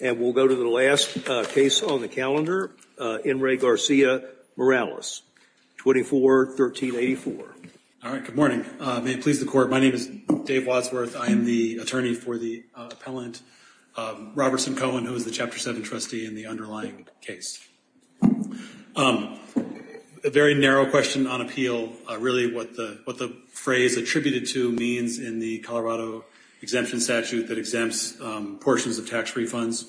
And we'll go to the last case on the calendar, N. Ray Garcia-Morales, 24-1384. All right, good morning. May it please the Court, my name is Dave Wadsworth. I am the attorney for the appellant, Robertson Cohen, who is the Chapter 7 trustee in the underlying case. A very narrow question on appeal, really what the phrase attributed to means in the Colorado exemption statute that exempts portions of tax refunds.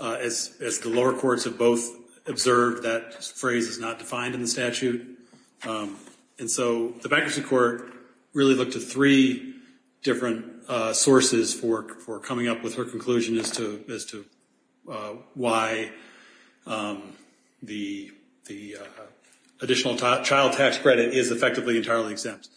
As the lower courts have both observed, that phrase is not defined in the statute. And so the bankruptcy court really looked at three different sources for coming up with her conclusion as to why the additional child tax credit is effectively entirely exempt.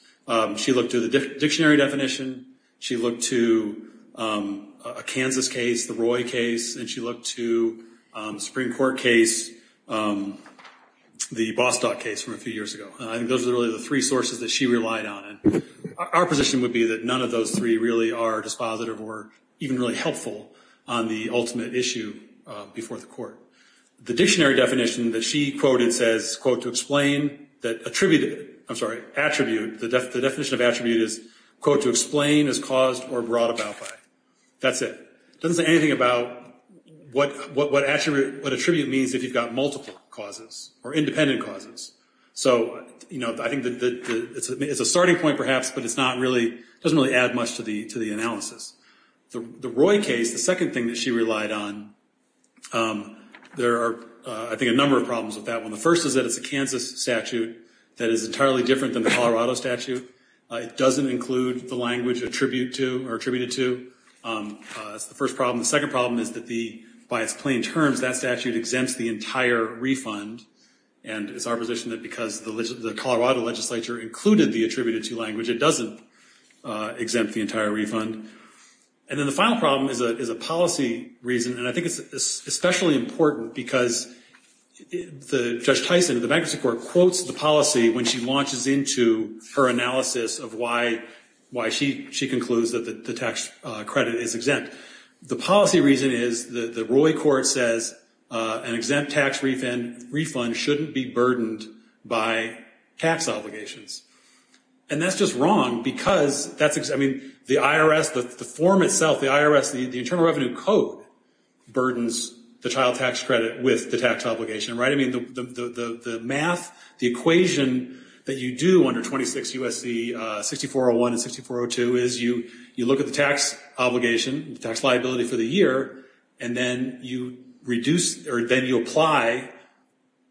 She looked to the dictionary definition, she looked to a Kansas case, the Roy case, and she looked to a Supreme Court case, the Bostock case from a few years ago. Those are really the three sources that she relied on. Our position would be that none of those three really are dispositive or even really helpful on the ultimate issue before the court. The dictionary definition that she quoted says, quote, to explain that attributed, I'm sorry, attribute, the definition of attribute is, quote, to explain as caused or brought about by. That's it. It doesn't say anything about what attribute means if you've got multiple causes or independent causes. So, you know, I think it's a starting point perhaps, but it's not really, it doesn't really add much to the analysis. The Roy case, the second thing that she relied on, there are, I think, a number of problems with that one. The first is that it's a Kansas statute that is entirely different than the Colorado statute. It doesn't include the language attribute to or attributed to. That's the first problem. The second problem is that the, by its plain terms, that statute exempts the entire refund, and it's our position that because the Colorado legislature included the attributed to language, it doesn't exempt the entire refund. And then the final problem is a policy reason, and I think it's especially important because Judge Tyson, the bankruptcy court, quotes the policy when she launches into her analysis of why she concludes that the tax credit is exempt. The policy reason is the Roy court says an exempt tax refund shouldn't be burdened by tax obligations, and that's just wrong because that's, I mean, the IRS, the form itself, the IRS, the Internal Revenue Code burdens the child tax credit with the tax obligation, right? I mean, the math, the equation that you do under 26 U.S.C. 6401 and 6402 is you look at the tax obligation, the tax liability for the year, and then you reduce, or then you apply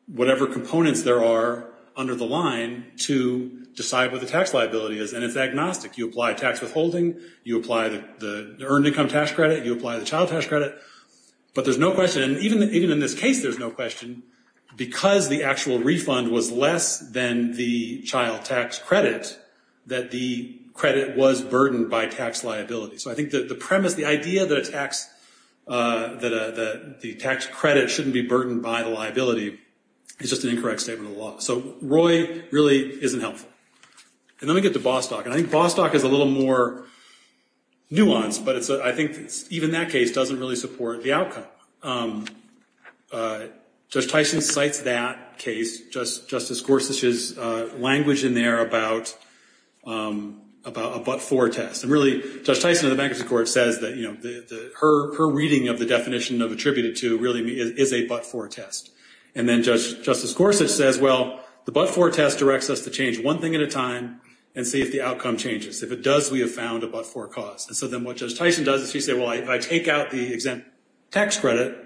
whatever components there are under the line to decide what the tax liability is, and it's agnostic. You apply tax withholding, you apply the earned income tax credit, you apply the child tax credit, but there's no question, even in this case there's no question, because the actual refund was less than the child tax credit that the credit was burdened by tax liability. So I think the premise, the idea that the tax credit shouldn't be burdened by the liability is just an incorrect statement of the law. So Roy really isn't helpful. And then we get to Bostock, and I think Bostock is a little more nuanced, but I think even that case doesn't really support the outcome. Judge Tyson cites that case, Justice Gorsuch's language in there about a but-for test, and really Judge Tyson in the bankruptcy court says that, you know, her reading of the definition of attributed to really is a but-for test. And then Justice Gorsuch says, well, the but-for test directs us to change one thing at a time and see if the outcome changes. If it does, we have found a but-for cause. And so then what Judge Tyson does is she says, well, if I take out the exempt tax credit,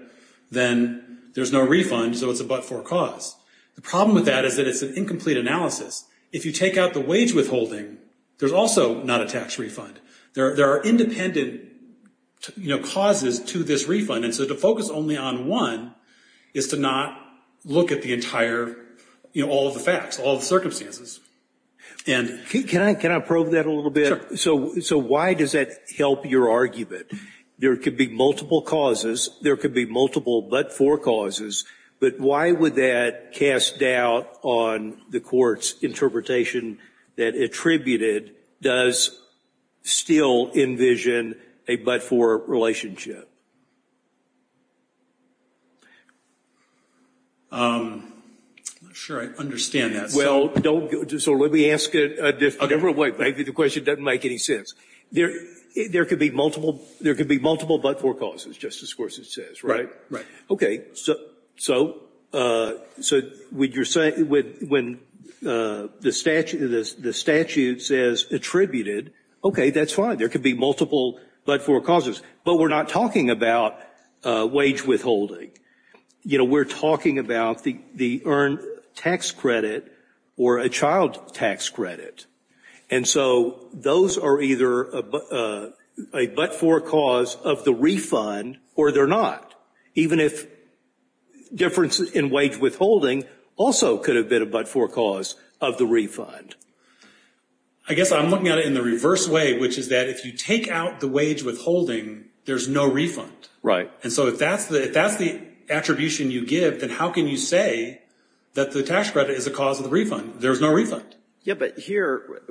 then there's no refund, so it's a but-for cause. The problem with that is that it's an incomplete analysis. If you take out the wage withholding, there's also not a tax refund. There are independent, you know, causes to this refund. And so to focus only on one is to not look at the entire, you know, all of the facts, all of the circumstances. Can I probe that a little bit? Sure. So why does that help your argument? There could be multiple causes. There could be multiple but-for causes. But why would that cast doubt on the Court's interpretation that attributed does still envision a but-for relationship? I'm not sure I understand that. Well, so let me ask a different way. Maybe the question doesn't make any sense. There could be multiple but-for causes, Justice Gorsuch says, right? Right. Okay, so when the statute says attributed, okay, that's fine. There could be multiple but-for causes. But we're not talking about wage withholding. You know, we're talking about the earned tax credit or a child tax credit. And so those are either a but-for cause of the refund or they're not, even if difference in wage withholding also could have been a but-for cause of the refund. I guess I'm looking at it in the reverse way, which is that if you take out the wage withholding, there's no refund. Right. And so if that's the attribution you give, then how can you say that the tax credit is a cause of the refund? There's no refund. Yeah, but here,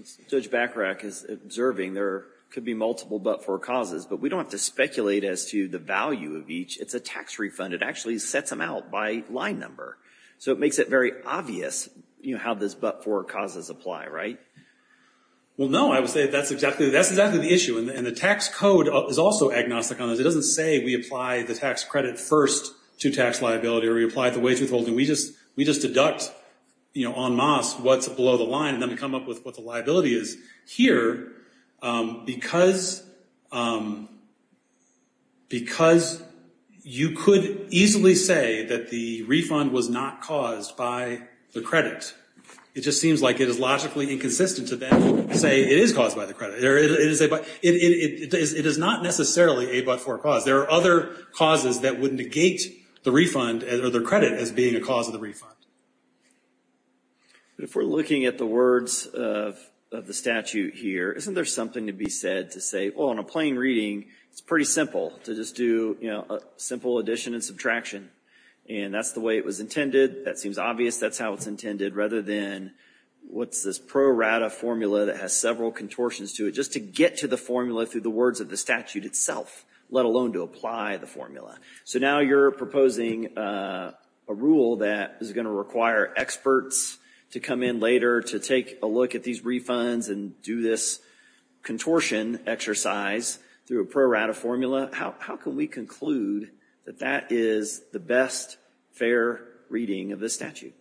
as Judge Bachrach is observing, there could be multiple but-for causes. But we don't have to speculate as to the value of each. It's a tax refund. It actually sets them out by line number. So it makes it very obvious, you know, how those but-for causes apply, right? Well, no, I would say that's exactly the issue. And the tax code is also agnostic on this. It doesn't say we apply the tax credit first to tax liability or we apply it to wage withholding. We just deduct, you know, en masse what's below the line, and then we come up with what the liability is. Here, because you could easily say that the refund was not caused by the credit, it just seems like it is logically inconsistent to then say it is caused by the credit. It is not necessarily a but-for cause. There are other causes that would negate the refund or the credit as being a cause of the refund. If we're looking at the words of the statute here, isn't there something to be said to say, well, in a plain reading, it's pretty simple to just do, you know, a simple addition and subtraction. And that's the way it was intended. That seems obvious. That's how it's intended, rather than what's this pro rata formula that has several contortions to it, to get to the formula through the words of the statute itself, let alone to apply the formula. So now you're proposing a rule that is going to require experts to come in later to take a look at these refunds and do this contortion exercise through a pro rata formula. How can we conclude that that is the best fair reading of the statute?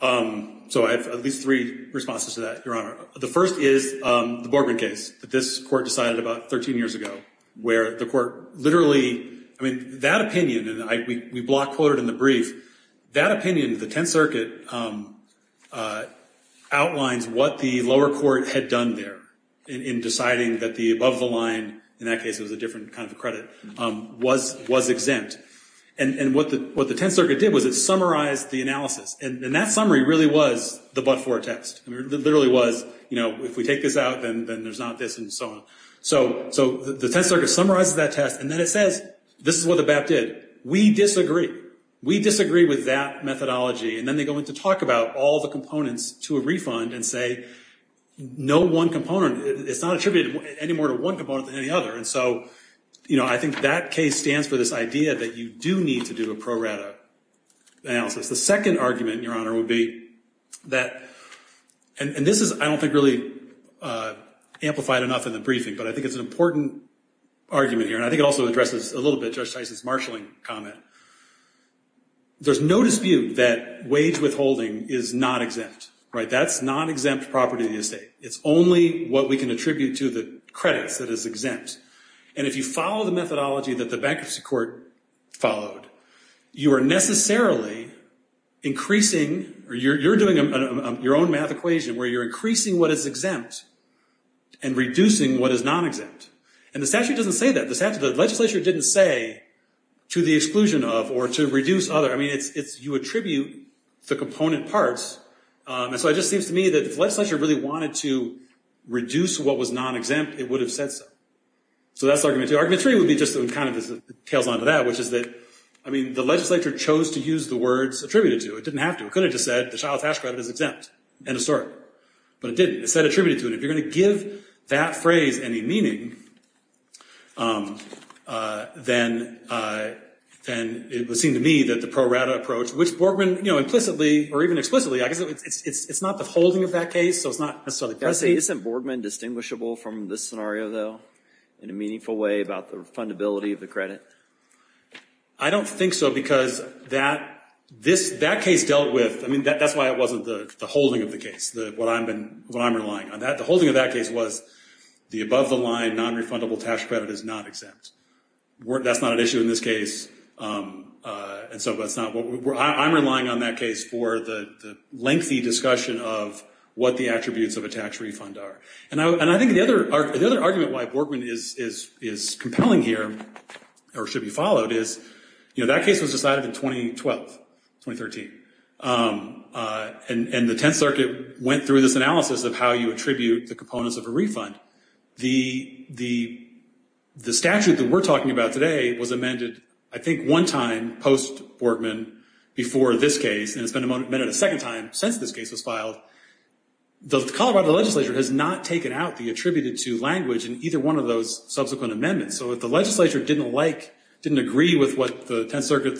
So I have at least three responses to that, Your Honor. The first is the Borgman case that this court decided about 13 years ago, where the court literally, I mean, that opinion, and we block quoted in the brief, that opinion, the Tenth Circuit, outlines what the lower court had done there in deciding that the above the line, in that case it was a different kind of credit, was exempt. And what the Tenth Circuit did was it summarized the analysis. And that summary really was the but-for text. It literally was, you know, if we take this out, then there's not this and so on. So the Tenth Circuit summarizes that test, and then it says this is what the BAP did. We disagree. We disagree with that methodology. And then they go in to talk about all the components to a refund and say no one component, it's not attributed any more to one component than any other. And so, you know, I think that case stands for this idea that you do need to do a pro rata analysis. The second argument, Your Honor, would be that, and this is, I don't think, really amplified enough in the briefing, but I think it's an important argument here, and I think it also addresses a little bit Judge Tyson's marshaling comment. There's no dispute that wage withholding is not exempt. That's not exempt property of the estate. It's only what we can attribute to the credits that is exempt. And if you follow the methodology that the bankruptcy court followed, you are necessarily increasing or you're doing your own math equation where you're increasing what is exempt and reducing what is non-exempt. And the statute doesn't say that. The legislature didn't say to the exclusion of or to reduce other. I mean, you attribute the component parts. And so it just seems to me that if the legislature really wanted to reduce what was non-exempt, it would have said so. So that's argument two. Argument three would be just kind of tails on to that, which is that, I mean, the legislature chose to use the words attributed to. It didn't have to. It could have just said the child tax credit is exempt. End of story. But it didn't. It said attributed to. And if you're going to give that phrase any meaning, then it would seem to me that the pro rata approach, which Borgman, you know, implicitly or even explicitly, I guess it's not the holding of that case, so it's not necessarily precinct. Isn't Borgman distinguishable from this scenario, though, in a meaningful way about the refundability of the credit? I don't think so because that case dealt with, I mean, that's why it wasn't the holding of the case, what I'm relying on. The holding of that case was the above the line non-refundable tax credit is not exempt. That's not an issue in this case. And so I'm relying on that case for the lengthy discussion of what the attributes of a tax refund are. And I think the other argument why Borgman is compelling here or should be followed is, you know, that case was decided in 2012, 2013, and the Tenth Circuit went through this analysis of how you attribute the components of a refund. The statute that we're talking about today was amended, I think, one time post-Borgman before this case, and it's been amended a second time since this case was filed. The Colorado legislature has not taken out the attributed to language in either one of those subsequent amendments. So if the legislature didn't like, didn't agree with what the Tenth Circuit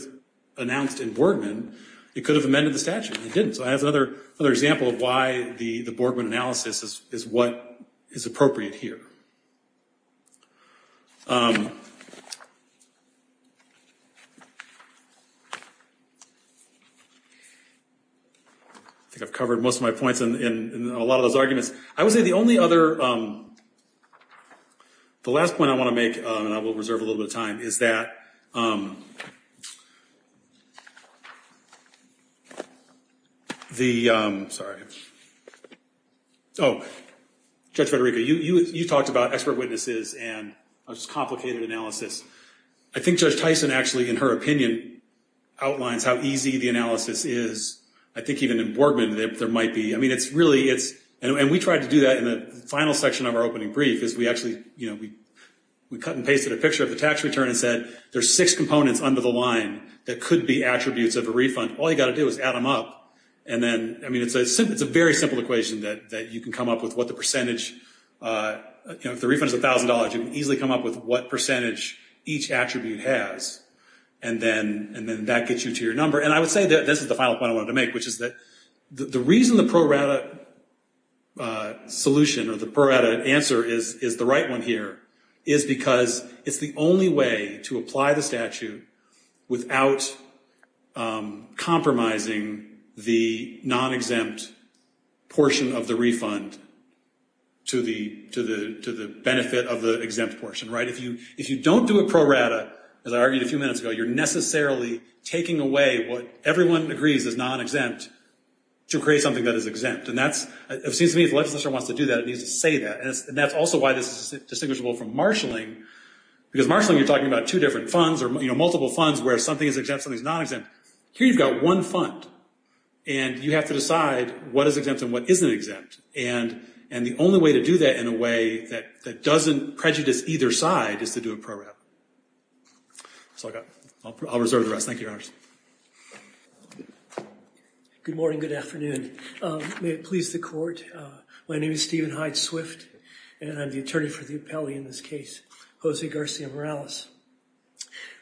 announced in Borgman, it could have amended the statute. It didn't. So that's another example of why the Borgman analysis is what is appropriate here. I think I've covered most of my points in a lot of those arguments. I would say the only other, the last point I want to make, and I will reserve a little bit of time, is that the, sorry. Oh, Judge Federico, you talked about expert witnesses and just complicated analysis. I think Judge Tyson actually, in her opinion, outlines how easy the analysis is. I think even in Borgman there might be. I mean, it's really, and we tried to do that in the final section of our opening brief is we actually, you know, we cut and pasted a picture of the tax return and said there's six components under the line that could be attributes of a refund. All you've got to do is add them up. And then, I mean, it's a very simple equation that you can come up with what the percentage, you know, if the refund is $1,000, you can easily come up with what percentage each attribute has. And then that gets you to your number. And I would say that this is the final point I wanted to make, which is that the reason the pro rata solution or the pro rata answer is the right one here is because it's the only way to apply the statute without compromising the non-exempt portion of the refund to the benefit of the exempt portion, right? If you don't do a pro rata, as I argued a few minutes ago, you're necessarily taking away what everyone agrees is non-exempt to create something that is exempt. And that's, it seems to me if the legislature wants to do that, it needs to say that. And that's also why this is distinguishable from marshalling, because marshalling you're talking about two different funds or, you know, multiple funds where something is exempt, something is non-exempt. Here you've got one fund, and you have to decide what is exempt and what isn't exempt. And the only way to do that in a way that doesn't prejudice either side is to do a pro rata. That's all I've got. I'll reserve the rest. Thank you, Your Honors. Good morning, good afternoon. May it please the Court. My name is Stephen Hyde-Swift, and I'm the attorney for the appellee in this case, Jose Garcia Morales.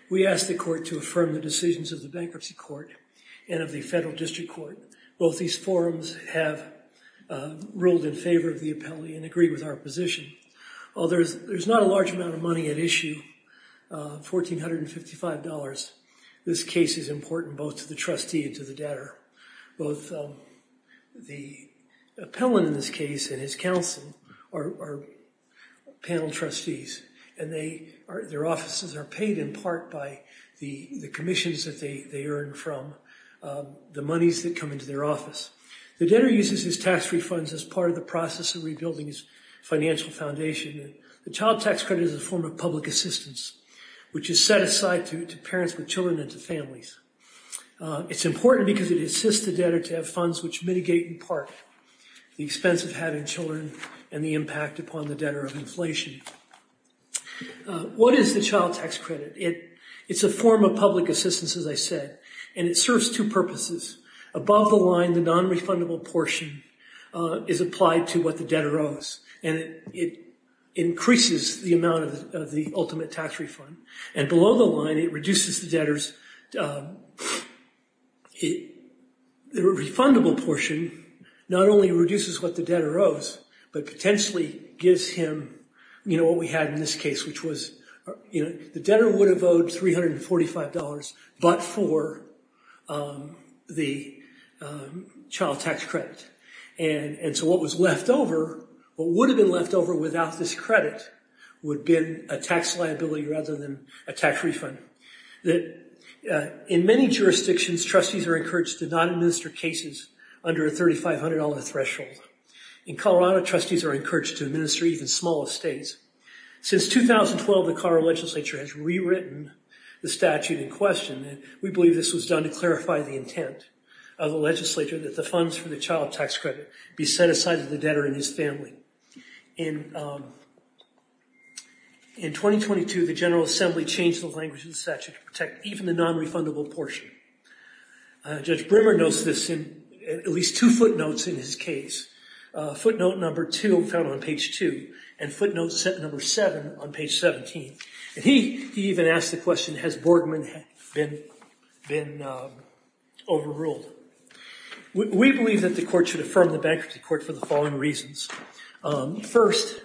We ask the Court to affirm the decisions of the Bankruptcy Court and of the Federal District Court. Both these forums have ruled in favor of the appellee and agree with our position. While there's not a large amount of money at issue, $1,455, this case is important both to the trustee and to the debtor. Both the appellant in this case and his counsel are panel trustees, and their offices are paid in part by the commissions that they earn from, the monies that come into their office. The debtor uses his tax refunds as part of the process of rebuilding his financial foundation. The child tax credit is a form of public assistance, which is set aside to parents with children and to families. It's important because it assists the debtor to have funds which mitigate in part the expense of having children and the impact upon the debtor of inflation. What is the child tax credit? It's a form of public assistance, as I said, and it serves two purposes. Above the line, the nonrefundable portion is applied to what the debtor owes, and it increases the amount of the ultimate tax refund. And below the line, it reduces the debtor's – the refundable portion not only reduces what the debtor owes but potentially gives him what we had in this case, which was the debtor would have owed $345 but for the child tax credit. And so what was left over, what would have been left over without this credit would have been a tax liability rather than a tax refund. In many jurisdictions, trustees are encouraged to not administer cases under a $3,500 threshold. In Colorado, trustees are encouraged to administer even smaller states. Since 2012, the Colorado legislature has rewritten the statute in question, and we believe this was done to clarify the intent of the legislature that the funds for the child tax credit be set aside to the debtor and his family. In 2022, the General Assembly changed the language of the statute to protect even the nonrefundable portion. Judge Brimmer notes this in at least two footnotes in his case, footnote number 2 found on page 2 and footnote number 7 on page 17. He even asked the question, has Borgman been overruled? We believe that the court should affirm the bankruptcy court for the following reasons. First,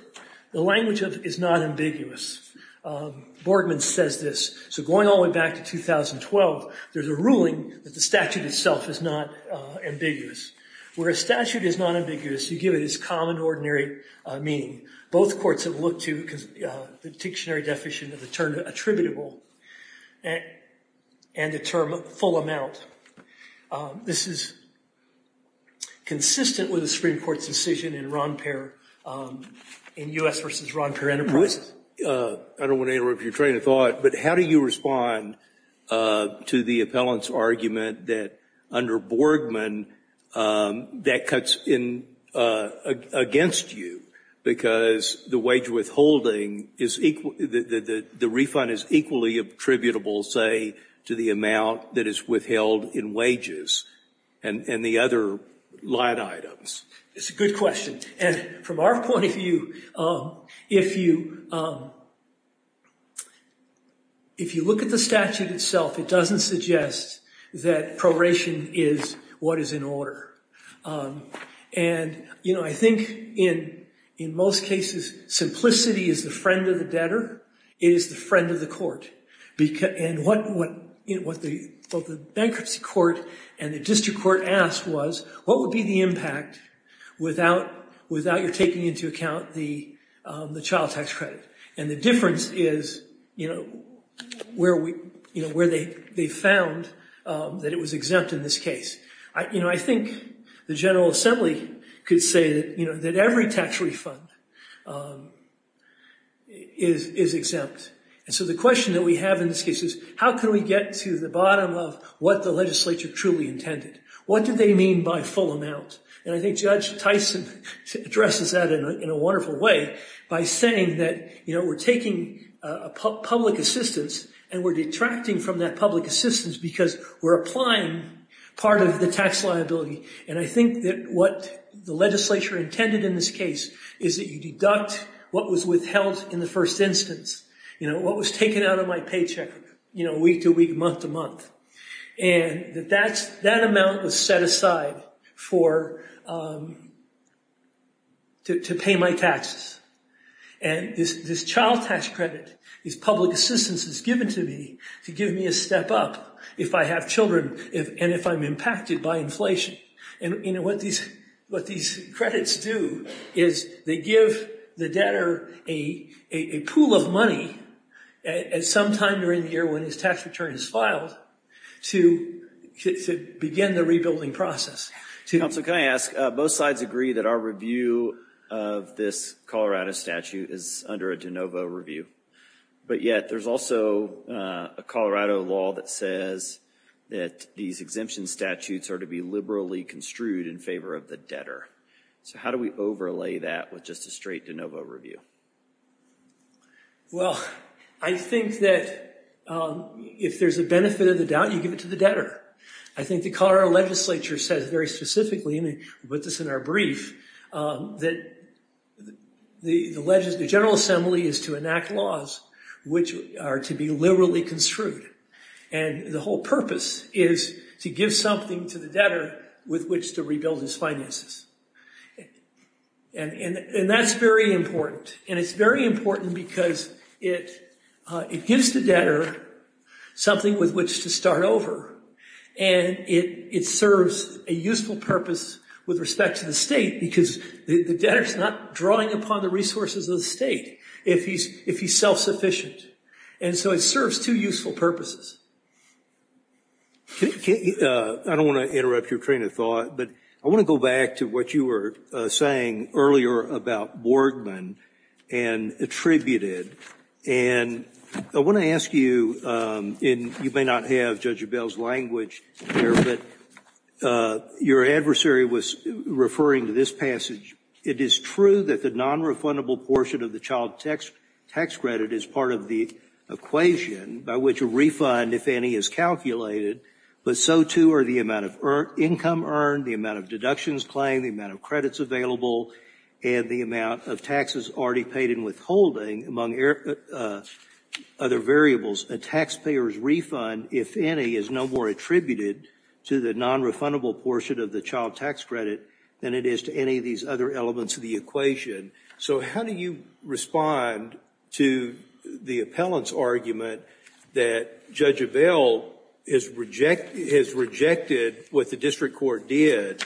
the language is not ambiguous. Borgman says this, so going all the way back to 2012, there's a ruling that the statute itself is not ambiguous. Where a statute is not ambiguous, you give it its common, ordinary meaning. Both courts have looked to the dictionary deficit as a term attributable and a term of full amount. This is consistent with the Supreme Court's decision in U.S. v. Ron Perry enterprise. I don't want to interrupt your train of thought, but how do you respond to the appellant's argument that under Borgman that cuts against you because the refund is equally attributable, say, to the amount that is withheld in wages and the other line items? It's a good question. From our point of view, if you look at the statute itself, it doesn't suggest that probation is what is in order. I think in most cases simplicity is the friend of the debtor. It is the friend of the court. What the bankruptcy court and the district court asked was, what would be the impact without your taking into account the child tax credit? The difference is where they found that it was exempt in this case. I think the General Assembly could say that every tax refund is exempt. The question that we have in this case is, how can we get to the bottom of what the legislature truly intended? What do they mean by full amount? I think Judge Tyson addresses that in a wonderful way by saying that we're taking public assistance and we're detracting from that public assistance because we're applying part of the tax liability. I think that what the legislature intended in this case is that you deduct what was withheld in the first instance, what was taken out of my paycheck week to week, month to month. That amount was set aside to pay my taxes. This child tax credit, this public assistance is given to me to give me a step up if I have children and if I'm impacted by inflation. What these credits do is they give the debtor a pool of money at some time during the year when his tax return is filed to begin the rebuilding process. Counsel, can I ask? Both sides agree that our review of this Colorado statute is under a de novo review, but yet there's also a Colorado law that says that these exemption statutes are to be liberally construed in favor of the debtor. How do we overlay that with just a straight de novo review? Well, I think that if there's a benefit of the doubt, you give it to the debtor. I think the Colorado legislature says very specifically, and we put this in our brief, that the General Assembly is to enact laws which are to be liberally construed. And the whole purpose is to give something to the debtor with which to rebuild his finances. And that's very important. And it's very important because it gives the debtor something with which to start over, and it serves a useful purpose with respect to the state because the debtor's not drawing upon the resources of the state if he's self-sufficient. And so it serves two useful purposes. I don't want to interrupt your train of thought, but I want to go back to what you were saying earlier about Boardman and attributed. And I want to ask you, and you may not have Judge Abell's language here, but your adversary was referring to this passage. It is true that the nonrefundable portion of the child tax credit is part of the equation by which a refund, if any, is calculated, but so too are the amount of income earned, the amount of deductions claimed, the amount of credits available, and the amount of taxes already paid in withholding, among other variables. A taxpayer's refund, if any, is no more attributed to the nonrefundable portion of the child tax credit than it is to any of these other elements of the equation. So how do you respond to the appellant's argument that Judge Abell has rejected what the district court did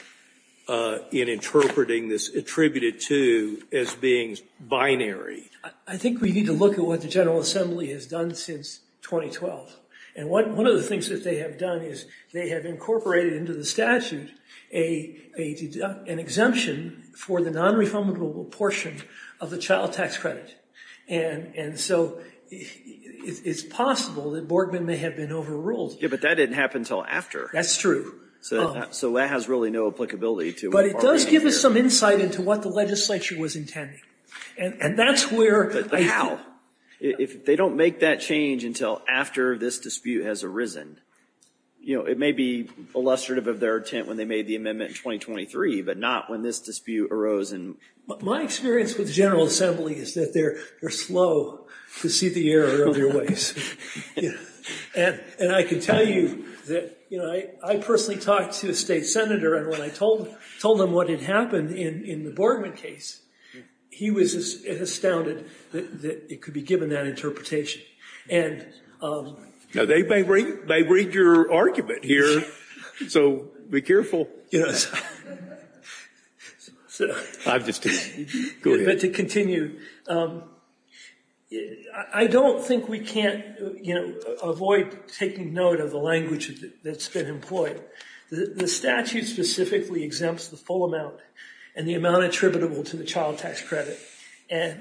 in interpreting this attributed to as being binary? I think we need to look at what the General Assembly has done since 2012. And one of the things that they have done is they have incorporated into the statute an exemption for the nonrefundable portion of the child tax credit. And so it's possible that Borgman may have been overruled. Yeah, but that didn't happen until after. That's true. So that has really no applicability to what we're arguing here. But it does give us some insight into what the legislature was intending. And that's where... But how? If they don't make that change until after this dispute has arisen, it may be illustrative of their intent when they made the amendment in 2023, but not when this dispute arose in... My experience with the General Assembly is that they're slow to see the error of their ways. And I can tell you that, you know, I personally talked to a state senator and when I told him what had happened in the Borgman case, he was astounded that it could be given that interpretation. And... Now, they may read your argument here, so be careful. You know, it's... I've just... Go ahead. Sorry, but to continue, I don't think we can't, you know, avoid taking note of the language that's been employed. The statute specifically exempts the full amount and the amount attributable to the child tax credit. And,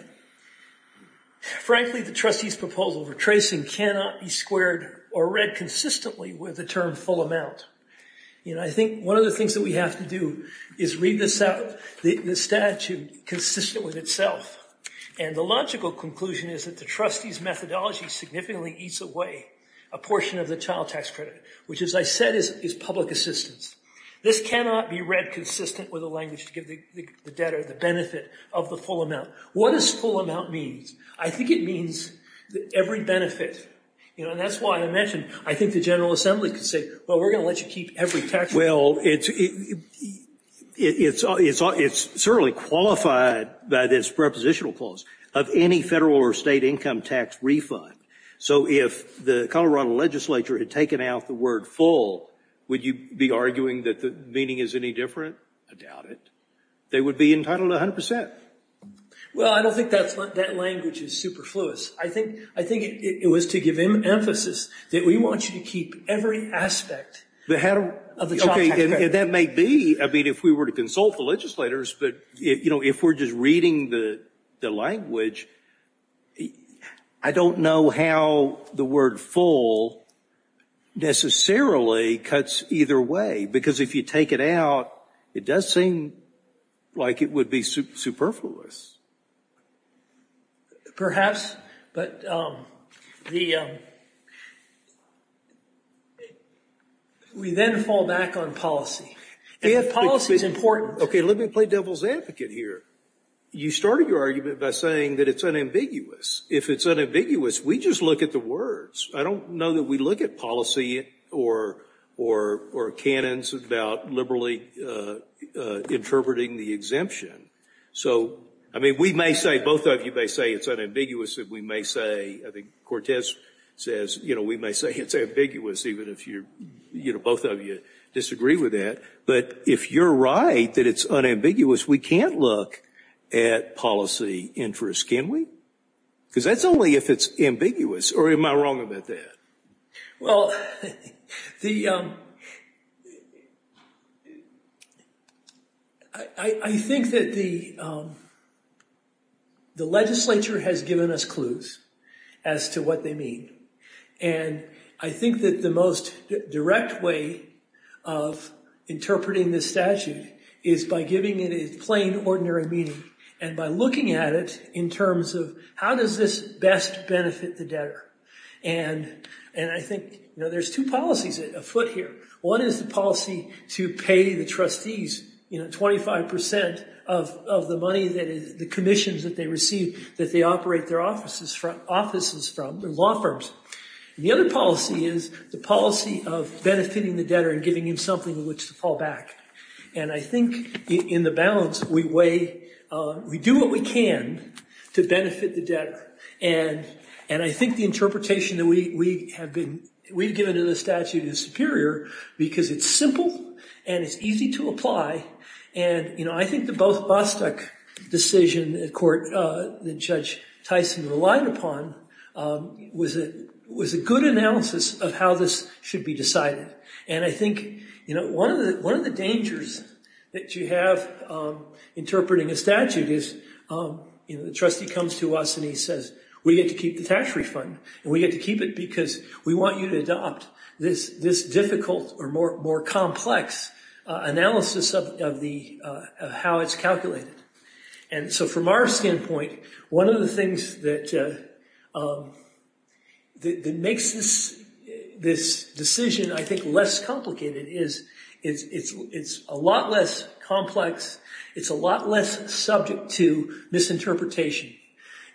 frankly, the trustees' proposal for tracing cannot be squared or read consistently with the term full amount. You know, I think one of the things that we have to do is read this out, the statute consistent with itself. And the logical conclusion is that the trustees' methodology significantly eats away a portion of the child tax credit, which, as I said, is public assistance. This cannot be read consistent with the language to give the debtor the benefit of the full amount. What does full amount mean? I think it means every benefit. You know, and that's why I mentioned, I think the General Assembly could say, well, we're going to let you keep every tax credit. Well, it's certainly qualified by this prepositional clause of any federal or state income tax refund. So if the Colorado legislature had taken out the word full, would you be arguing that the meaning is any different? I doubt it. They would be entitled to 100%. Well, I don't think that language is superfluous. I think it was to give emphasis that we want you to keep every aspect of the child tax credit. Okay, and that may be, I mean, if we were to consult the legislators, but, you know, if we're just reading the language, I don't know how the word full necessarily cuts either way, because if you take it out, it does seem like it would be superfluous. Perhaps, but we then fall back on policy. And policy is important. Okay, let me play devil's advocate here. You started your argument by saying that it's unambiguous. If it's unambiguous, we just look at the words. I don't know that we look at policy or canons about liberally interpreting the exemption. So, I mean, we may say, both of you may say it's unambiguous. We may say, I think Cortez says, you know, we may say it's ambiguous, even if you're, you know, both of you disagree with that. But if you're right that it's unambiguous, we can't look at policy interest, can we? Because that's only if it's ambiguous. Or am I wrong about that? Well, I think that the legislature has given us clues as to what they mean. And I think that the most direct way of interpreting this statute is by giving it a plain, ordinary meaning and by looking at it in terms of how does this best benefit the debtor. And I think, you know, there's two policies afoot here. One is the policy to pay the trustees, you know, 25% of the money that is, the commissions that they receive that they operate their offices from, their law firms. And the other policy is the policy of benefiting the debtor and giving him something with which to fall back. And I think in the balance, we weigh, we do what we can to benefit the debtor. And I think the interpretation that we have been, we've given to this statute is superior because it's simple and it's easy to apply. And, you know, I think the both Bostock decision in court that Judge Tyson relied upon was a good analysis of how this should be decided. And I think, you know, one of the dangers that you have interpreting a statute is, you know, the trustee comes to us and he says, we get to keep the tax refund and we get to keep it because we want you to adopt this difficult or more complex analysis of how it's calculated. And so from our standpoint, one of the things that makes this decision, I think, less complicated is it's a lot less complex, it's a lot less subject to misinterpretation.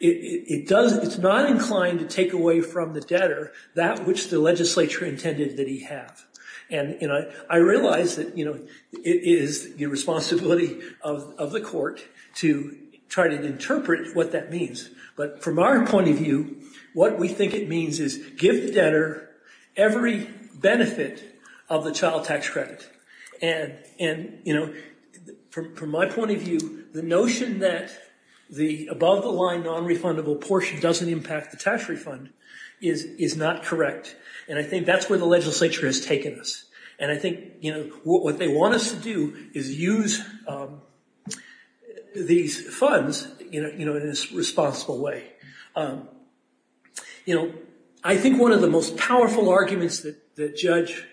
It's not inclined to take away from the debtor that which the legislature intended that he have. And I realize that, you know, it is the responsibility of the court to try to interpret what that means. But from our point of view, what we think it means is give the debtor every benefit of the child tax credit. And, you know, from my point of view, the notion that the above-the-line non-refundable portion doesn't impact the tax refund is not correct. And I think that's where the legislature has taken us. And I think, you know, what they want us to do is use these funds, you know, in this responsible way. You know, I think one of the most powerful arguments that Judge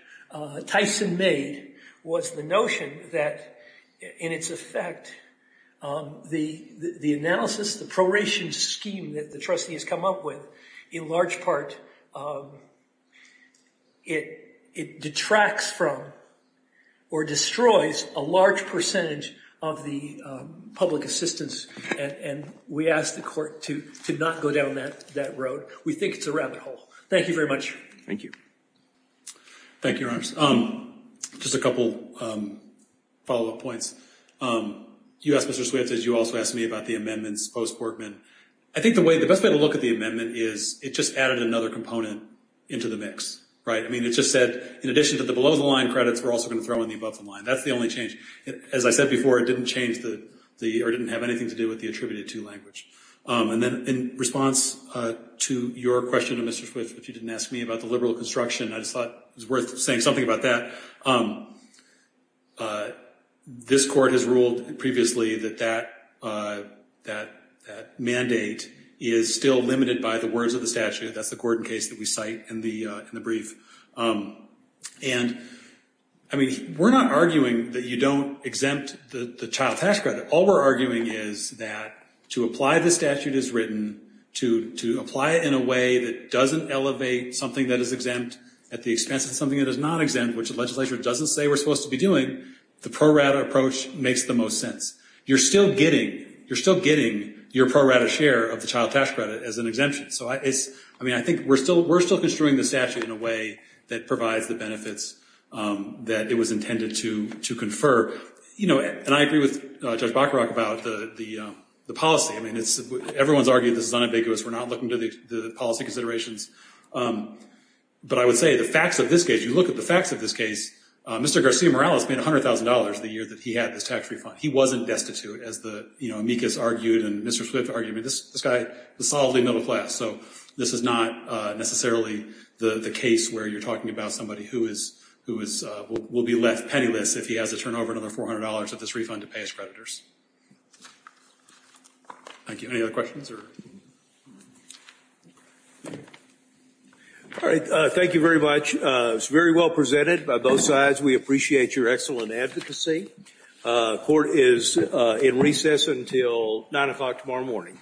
Tyson made was the notion that, in its effect, the analysis, the proration scheme that the trustee has come up with, in large part it detracts from or destroys a large percentage of the public assistance. And we ask the court to not go down that road. We think it's a rabbit hole. Thank you very much. Thank you. Thank you, Your Honors. Just a couple follow-up points. You asked, Mr. Swift, as you also asked me, about the amendments post-Borgman. I think the best way to look at the amendment is it just added another component into the mix, right? I mean, it just said, in addition to the below-the-line credits, we're also going to throw in the above-the-line. That's the only change. As I said before, it didn't change the or didn't have anything to do with the attributed-to language. And then in response to your question, Mr. Swift, if you didn't ask me about the liberal construction, I just thought it was worth saying something about that. This court has ruled previously that that mandate is still limited by the words of the statute. That's the Gordon case that we cite in the brief. And, I mean, we're not arguing that you don't exempt the child tax credit. All we're arguing is that to apply the statute as written, to apply it in a way that doesn't elevate something that is exempt at the expense of something that is not exempt, which the legislature doesn't say we're supposed to be doing, the pro-rata approach makes the most sense. You're still getting your pro-rata share of the child tax credit as an exemption. So, I mean, I think we're still construing the statute in a way that provides the benefits that it was intended to confer. And I agree with Judge Bacharach about the policy. I mean, everyone's argued this is unambiguous. We're not looking to the policy considerations. But I would say the facts of this case, you look at the facts of this case, Mr. Garcia Morales made $100,000 the year that he had this tax refund. He wasn't destitute, as the amicus argued and Mr. Swift argued. I mean, this guy is solidly middle class. So this is not necessarily the case where you're talking about somebody who will be left penniless if he has to turn over another $400 of this refund to pay his creditors. Thank you. Any other questions? All right. Thank you very much. It was very well presented by both sides. We appreciate your excellent advocacy. Court is in recess until 9 o'clock tomorrow morning.